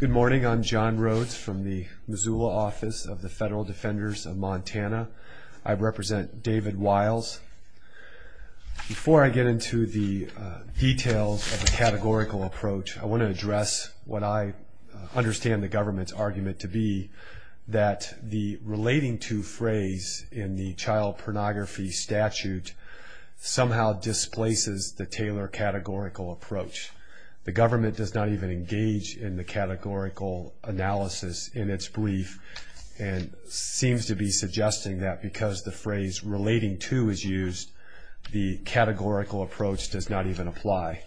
Good morning. I'm John Rhodes from the Missoula office of the Federal Defenders of Montana. I represent David Wiles. Before I get into the details of the categorical approach, I want to address what I understand the government's argument to be, that the relating to phrase in the child pornography statute somehow displaces the Taylor categorical approach. The government does not even engage in the categorical analysis in its brief, and seems to be suggesting that because the phrase relating to is used, the categorical approach does not even apply.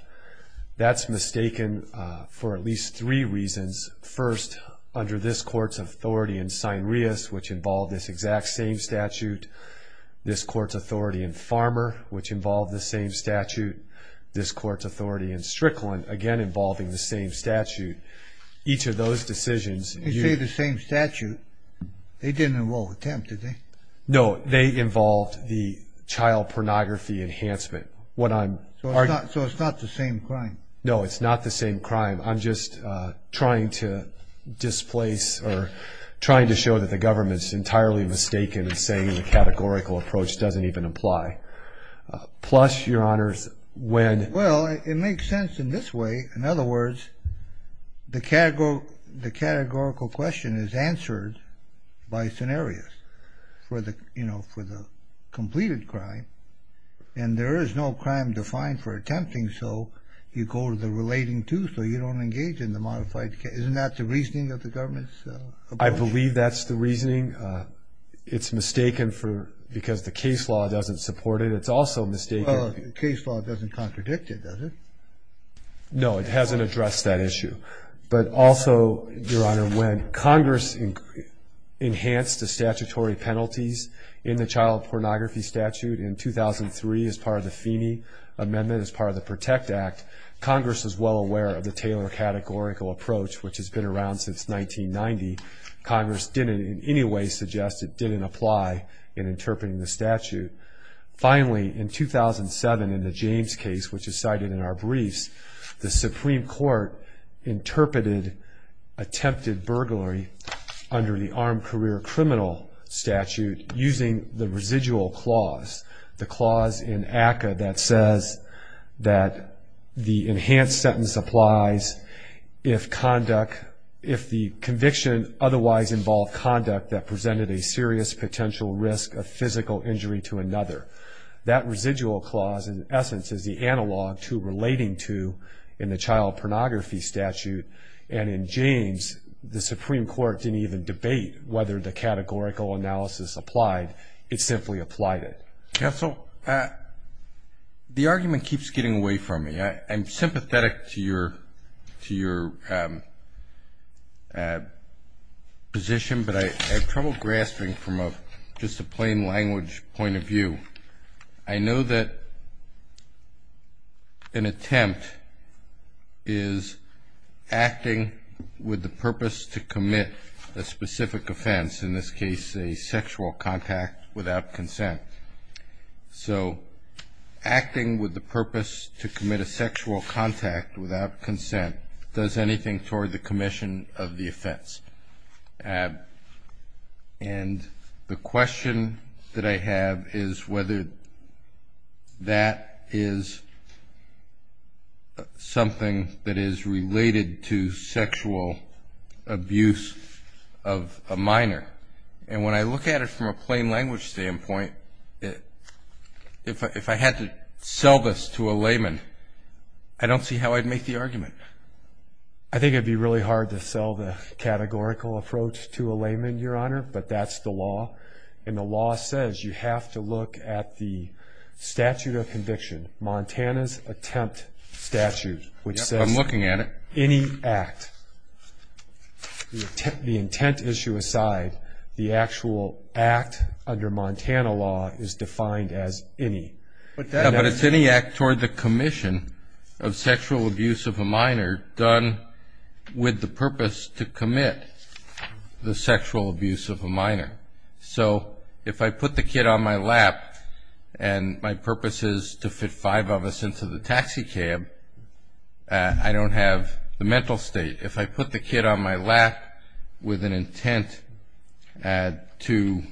That's mistaken for at least three reasons. First, under this court's authority in Strychlin, which involved this exact same statute, this court's authority in Farmer, which involved the same statute, this court's authority in Strychlin, again involving the same statute, each of those decisions... You say the same statute. They didn't involve attempt, did they? No, they involved the child pornography enhancement. So it's not the same crime? No, it's not the same crime. I'm just trying to displace, or trying to show that the government's entirely mistaken in saying the categorical approach doesn't even apply. Plus, Your Honors, when... Well, it makes sense in this way. In other words, the categorical question is answered by scenarios for the completed crime, and there is no crime defined for attempting, so you go to the relating to, so you don't engage in the modified... Isn't that the reasoning of the government's approach? I believe that's the reasoning. It's mistaken because the case law doesn't support it. It's also mistaken... Well, the case law doesn't contradict it, does it? No, it hasn't addressed that issue. But also, Your Honor, when Congress enhanced the statutory penalties in the child pornography statute in 2003 as part of the Feeney Amendment, as part of the PROTECT Act, Congress was well aware of the Taylor categorical approach, which has been around since 1990. Congress didn't in any way suggest it didn't apply in interpreting the statute. Finally, in 2007, in the James case, which is cited in our briefs, the Supreme Court interpreted attempted burglary under the armed career criminal statute using the residual clause, the clause in ACCA that says that the enhanced sentence applies if conduct... If the conviction otherwise involved conduct that presented a serious potential risk of physical injury to another. That residual clause, in essence, is the analog to relating to in the child pornography statute. And in James, the Supreme Court didn't even debate whether the categorical analysis applied. It simply applied it. Counsel, the argument keeps getting away from me. I'm sympathetic to your position, but I have trouble grasping from just a plain language point of view. I know that an attempt is acting with the purpose to commit a specific offense, in this case, a sexual contact without consent. So acting with the purpose to commit a sexual contact without consent does anything toward the commission of the offense. And the question that I have is whether that is something that is related to sexual abuse of a minor. And when I look at it from a plain language standpoint, if I had to sell this to a layman, I don't see how I'd make the argument. I think it would be really hard to sell the categorical approach to a layman, Your Honor, but that's the law. And the law says you have to look at the statute of conviction, Montana's attempt statute, which says... I'm looking at it. Any act. The intent issue aside, the actual act under Montana law is defined as any. Yeah, but it's any act toward the commission of sexual abuse of a minor done with the purpose to commit the sexual abuse of a minor. So if I put the kid on my lap and my purpose is to fit five of us into the taxicab, I don't have the mental state. If I put the kid on my lap with an intent to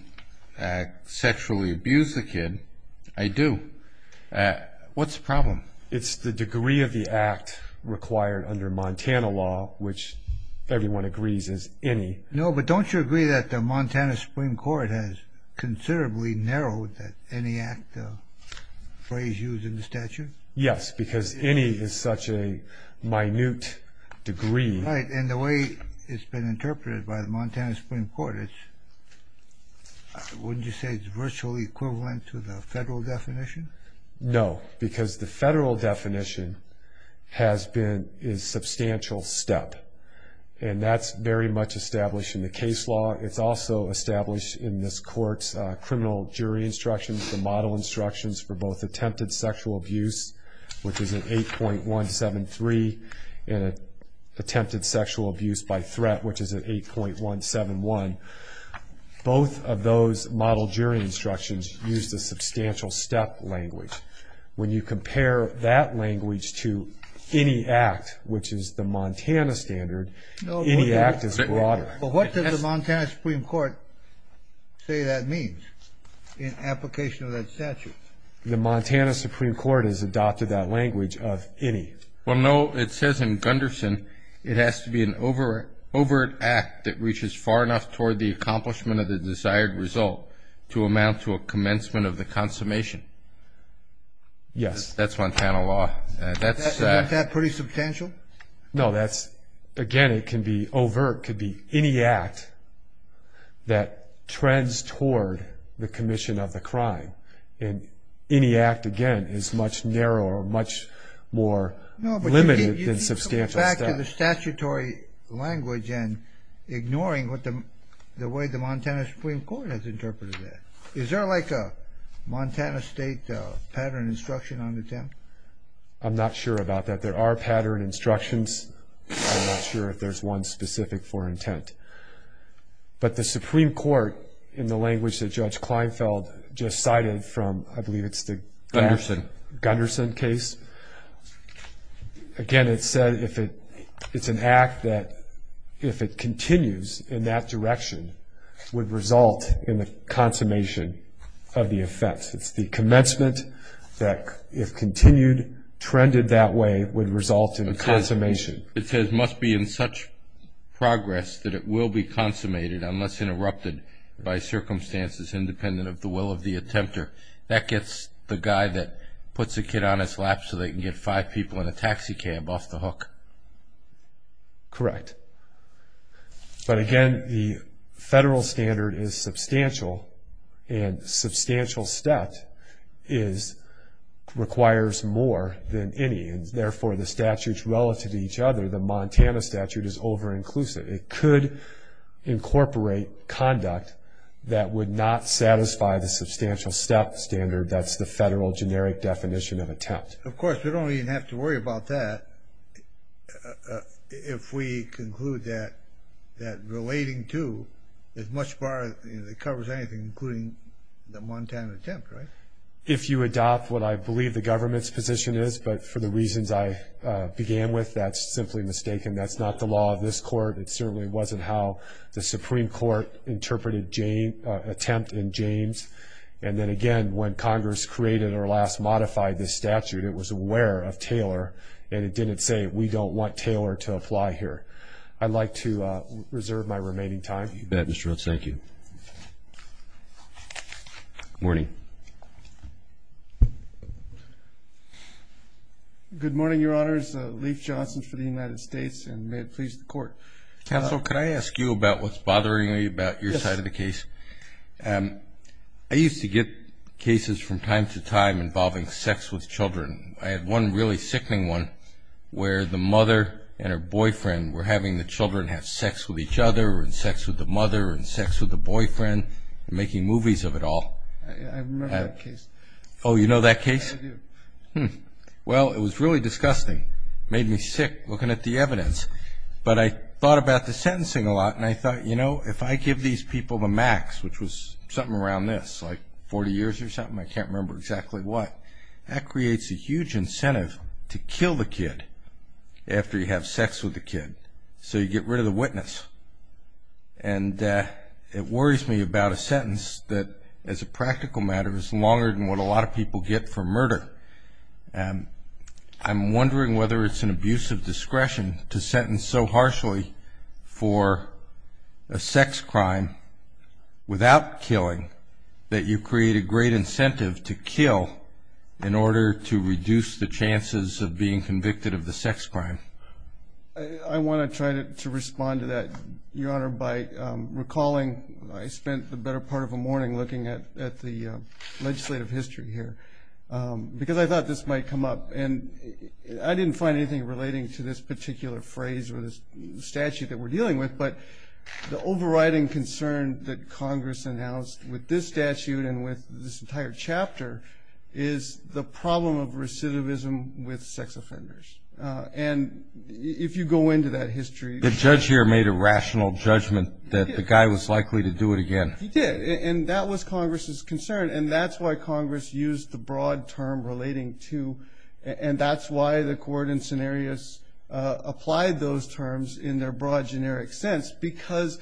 sexually abuse the kid, I do. What's the problem? It's the degree of the act required under Montana law, which everyone agrees is any. No, but don't you agree that the Montana Supreme Court has considerably narrowed any act? Yes, because any is such a minute degree. And the way it's been interpreted by the Montana Supreme Court, wouldn't you say it's virtually equivalent to the federal definition? No, because the federal definition is substantial step. And that's very much established in the case law. It's also established in this court's criminal jury instructions, the model instructions for both attempted sexual abuse, which is an 8.173, and attempted sexual abuse by threat, which is an 8.171. Both of those model jury instructions use the substantial step language. When you compare that language to any act, which is the Montana standard, any act is broader. But what does the Montana Supreme Court say that means in application of that statute? The Montana Supreme Court has adopted that language of any. Well, no, it says in Gunderson, it has to be an overt act that reaches far enough toward the accomplishment of the desired result to amount to a commencement of the consummation. Yes. That's Montana law. Isn't that pretty substantial? No, that's, again, it can be overt, it could be any act that trends toward the commission of the crime. And any act, again, is much narrower, much more limited than substantial No, but you can go back to the statutory language and ignoring the way the Montana Supreme Court has interpreted that. Is there like a Montana state pattern instruction on the temp? I'm not sure about that. There are pattern instructions. I'm not sure if there's one specific for intent. But the Supreme Court, in the language that Judge Kleinfeld just cited from, I believe it's the Gunderson case, again, it said it's an act that if it continues in that direction, would result in the consummation of the offense. It's the commencement that if continued, trended that way, would result in the consummation. It says, must be in such progress that it will be consummated unless interrupted by circumstances independent of the will of the attempter. That gets the guy that puts the kid on his lap so they can get five people in a taxi cab off the hook. Correct. But, again, the federal standard is substantial, and substantial stat is a requires more than any, and therefore the statutes relative to each other, the Montana statute is over-inclusive. It could incorporate conduct that would not satisfy the substantial stat standard that's the federal generic definition of attempt. Of course, we don't even have to worry about that if we conclude that relating to, as much far as it covers anything, including the Montana attempt, right? If you adopt what I believe the government's position is, but for the reasons I began with, that's simply mistaken. That's not the law of this court. It certainly wasn't how the Supreme Court interpreted attempt in James. And then, again, when Congress created or last modified this statute, it was aware of Taylor, and it didn't say we don't want Taylor to apply here. I'd like to reserve my remaining time. You bet, Mr. Rhodes. Thank you. Good morning. Good morning, Your Honors. Leif Johnson for the United States, and may it please the Court. Counsel, could I ask you about what's bothering me about your side of the case? Yes. I used to get cases from time to time involving sex with children. I had one really sickening one where the mother and her boyfriend were having the children have sex with each other, and sex with the mother, and sex with the boyfriend, and making movies of it all. I remember that case. Oh, you know that case? I do. Well, it was really disgusting. It made me sick looking at the evidence. But I thought about the sentencing a lot, and I thought, you know, if I give these people the max, which was something around this, like 40 years or something, I can't remember exactly what, that creates a huge incentive to kill the kid after you have sex with the kid. So you get rid of the witness. And it worries me about a sentence that, as a practical matter, is longer than what a lot of people get for murder. I'm wondering whether it's an abusive discretion to sentence so harshly for a sex crime without killing that you create a great incentive to kill in order to reduce the chances of being convicted of the sex crime. I want to try to respond to that, Your Honor, by recalling, I spent the better part of a morning looking at the legislative history here, because I thought this might come up. And I didn't find anything relating to this particular phrase or this statute that we're dealing with. But the overriding concern that Congress announced with this statute and with this entire chapter is the problem of recidivism with sex offenders. And if you go into that history... The judge here made a rational judgment that the guy was likely to do it again. He did. And that was Congress's concern. And that's why Congress used the broad term relating to, and that's why the court in Cenarius applied those terms in their broad, generic sense, because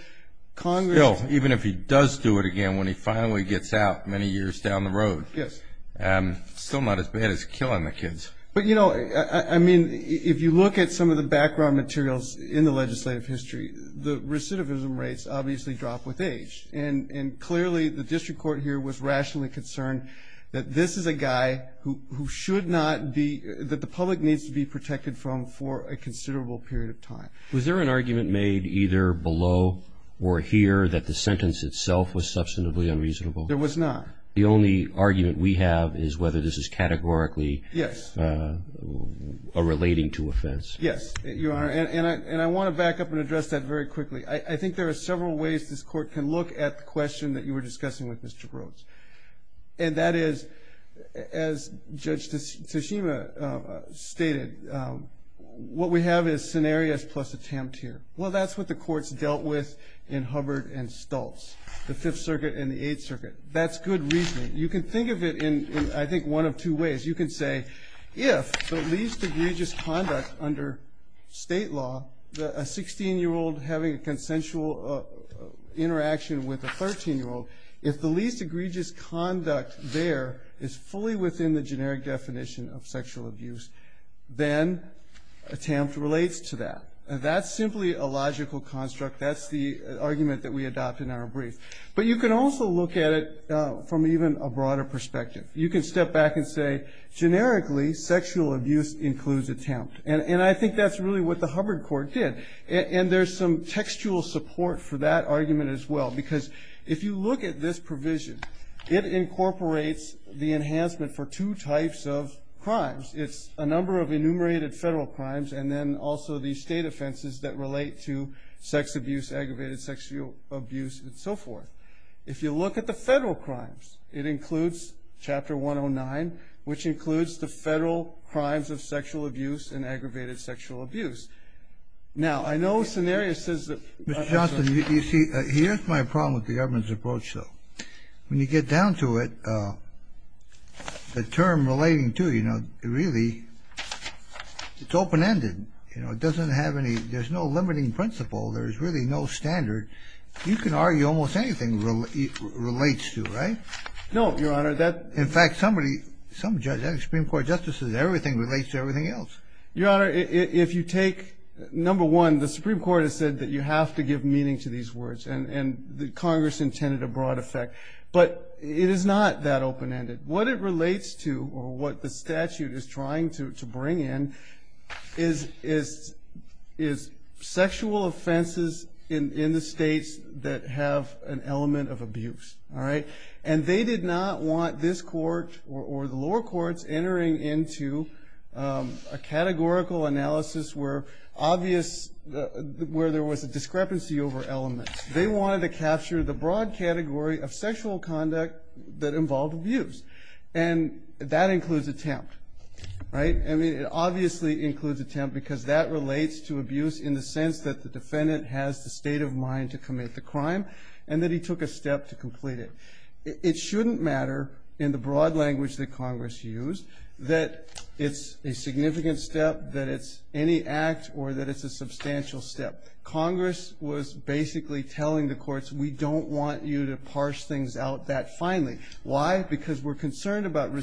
Congress... He did do it again when he finally gets out many years down the road. Yes. Still not as bad as killing the kids. But, you know, I mean, if you look at some of the background materials in the legislative history, the recidivism rates obviously drop with age. And clearly, the district court here was rationally concerned that this is a guy who should not be, that the public needs to be protected from for a considerable period of time. Was there an argument made either below or here that the sentence itself was substantively unreasonable? There was not. The only argument we have is whether this is categorically... Yes. ...relating to offense. Yes, Your Honor. And I want to back up and address that very quickly. I think there are several ways this court can look at the question that you were discussing with Mr. Brooks. And that is, as Judge Tsushima stated, what we have is scenarios plus attempt here. Well, that's what the courts dealt with in Hubbard and Stultz, the Fifth Circuit and the Eighth Circuit. That's good reasoning. You can think of it in, I think, one of two ways. You can say, if the least egregious conduct under state law, a 16-year-old having a consensual interaction with a 13-year-old, if the least egregious conduct there is fully within the generic definition of sexual abuse, then attempt relates to that. And that's simply a logical construct. That's the argument that we adopt in our brief. But you can also look at it from even a broader perspective. You can step back and say, generically, sexual abuse includes attempt. And I think that's really what the Hubbard court did. And there's some textual support for that argument as well. Because if you look at this provision, it incorporates the enhancement for two types of crimes. It's a number of enumerated federal crimes and then also the state offenses that relate to sex abuse, aggravated sexual abuse, and so forth. If you look at the federal crimes, it includes Chapter 109, which includes the federal crimes of sexual abuse and aggravated sexual abuse. Now, I know Scenarius says that... Mr. Johnston, you see, here's my problem with the government's approach, though. When you get down to it, the term relating to, you know, really, it's open-ended. You know, it doesn't have any, there's no limiting principle. There's really no standard. You can argue almost anything relates to, right? No, Your Honor, that... In fact, somebody, some judge, Supreme Court justices, everything relates to everything else. Your Honor, if you take, number one, the Supreme Court has said that you have to give meaning to these words. And Congress intended a broad effect. But it is not that open-ended. What it relates to, or what the statute is trying to bring in, is sexual offenses in the states that have an element of abuse, all right? And they did not want this court, or the lower courts, entering into a categorical analysis where obvious, where there was a discrepancy over elements. They wanted to capture the broad category of sexual conduct that involved abuse. And that includes attempt, right? I mean, it obviously includes attempt, because that relates to abuse in the sense that the defendant has the state of mind to commit the crime, and that he took a step to complete it. It shouldn't matter, in the broad language that Congress used, that it's a significant step, that it's any act, or that it's a substantial step. Congress was basically telling the courts, we don't want you to parse things out that finely. Why? Because we're concerned about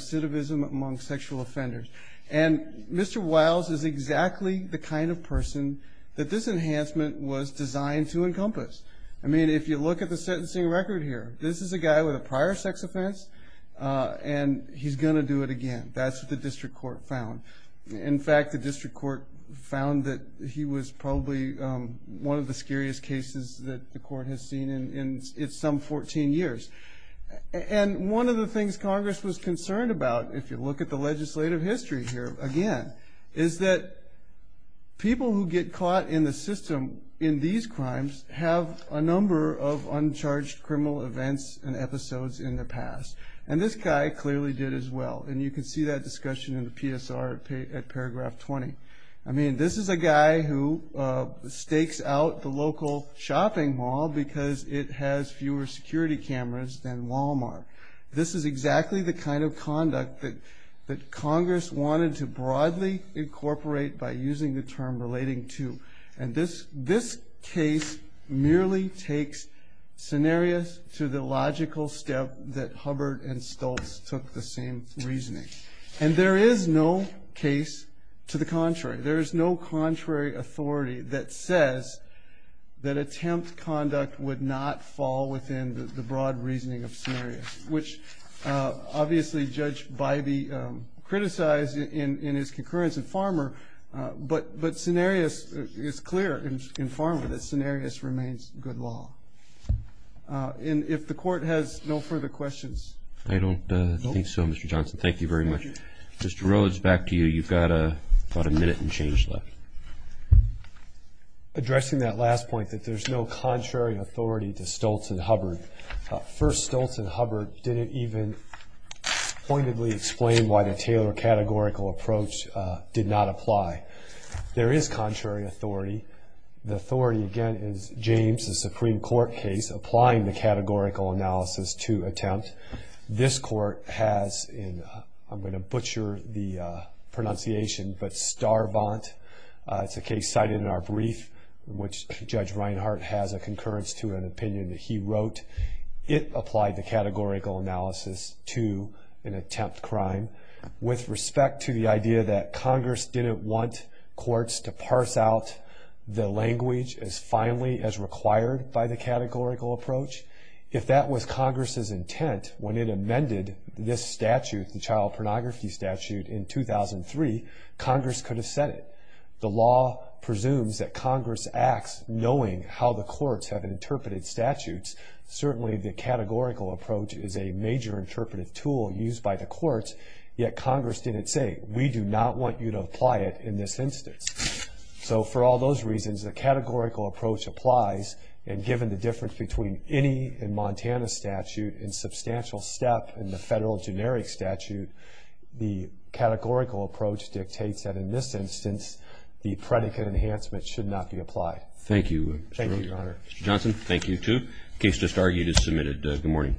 the kind of person that this enhancement was designed to encompass. I mean, if you look at the sentencing record here, this is a guy with a prior sex offense, and he's going to do it again. That's what the district court found. In fact, the district court found that he was probably one of the scariest cases that the court has seen in some 14 years. And one of the things Congress was concerned about, if you look at the legislative history here again, is that people who get caught in the system in these crimes have a number of uncharged criminal events and episodes in the past. And this guy clearly did as well. And you can see that discussion in the PSR at paragraph 20. I mean, this is a guy who stakes out the local shopping mall because it has fewer security cameras than Walmart. This is exactly the kind of conduct that Congress wanted to broadly incorporate by using the term relating to. And this case merely takes scenarios to the logical step that Hubbard and Stoltz took the same reasoning. And there is no case to the contrary. There is no contrary authority that says that attempt conduct would not fall within the scope of the law, which obviously judged by the criticized in his concurrence in Farmer. But Scenarius is clear in Farmer that Scenarius remains good law. And if the court has no further questions. I don't think so, Mr. Johnson. Thank you very much. Mr. Rhodes, back to you. You've got about a minute and change left. Addressing that last point that there's no contrary authority to Stoltz and Hubbard. First, Stoltz and Hubbard didn't even pointedly explain why the Taylor categorical approach did not apply. There is contrary authority. The authority again is James, the Supreme Court case, applying the categorical analysis to attempt. This court has in I'm going to butcher the pronunciation, but star it in our brief, which judge Reinhart has a concurrence to an opinion that he wrote. It applied the categorical analysis to an attempt crime with respect to the idea that Congress didn't want courts to parse out the language as finely as required by the categorical approach. If that was Congress's intent when it amended this statute, the child pornography statute in 2003, Congress could have said it. The law presumes that Congress acts knowing how the courts have interpreted statutes. Certainly the categorical approach is a major interpretive tool used by the courts. Yet Congress didn't say, we do not want you to apply it in this instance. So for all those reasons, the categorical approach applies. And given the difference between any in Montana statute and substantial step in the federal generic statute, the categorical approach dictates that in this instance, the predicate enhancement should not be applied. Thank you. Thank you, Mr. Johnson. Thank you too. Case just argued is submitted. Good morning.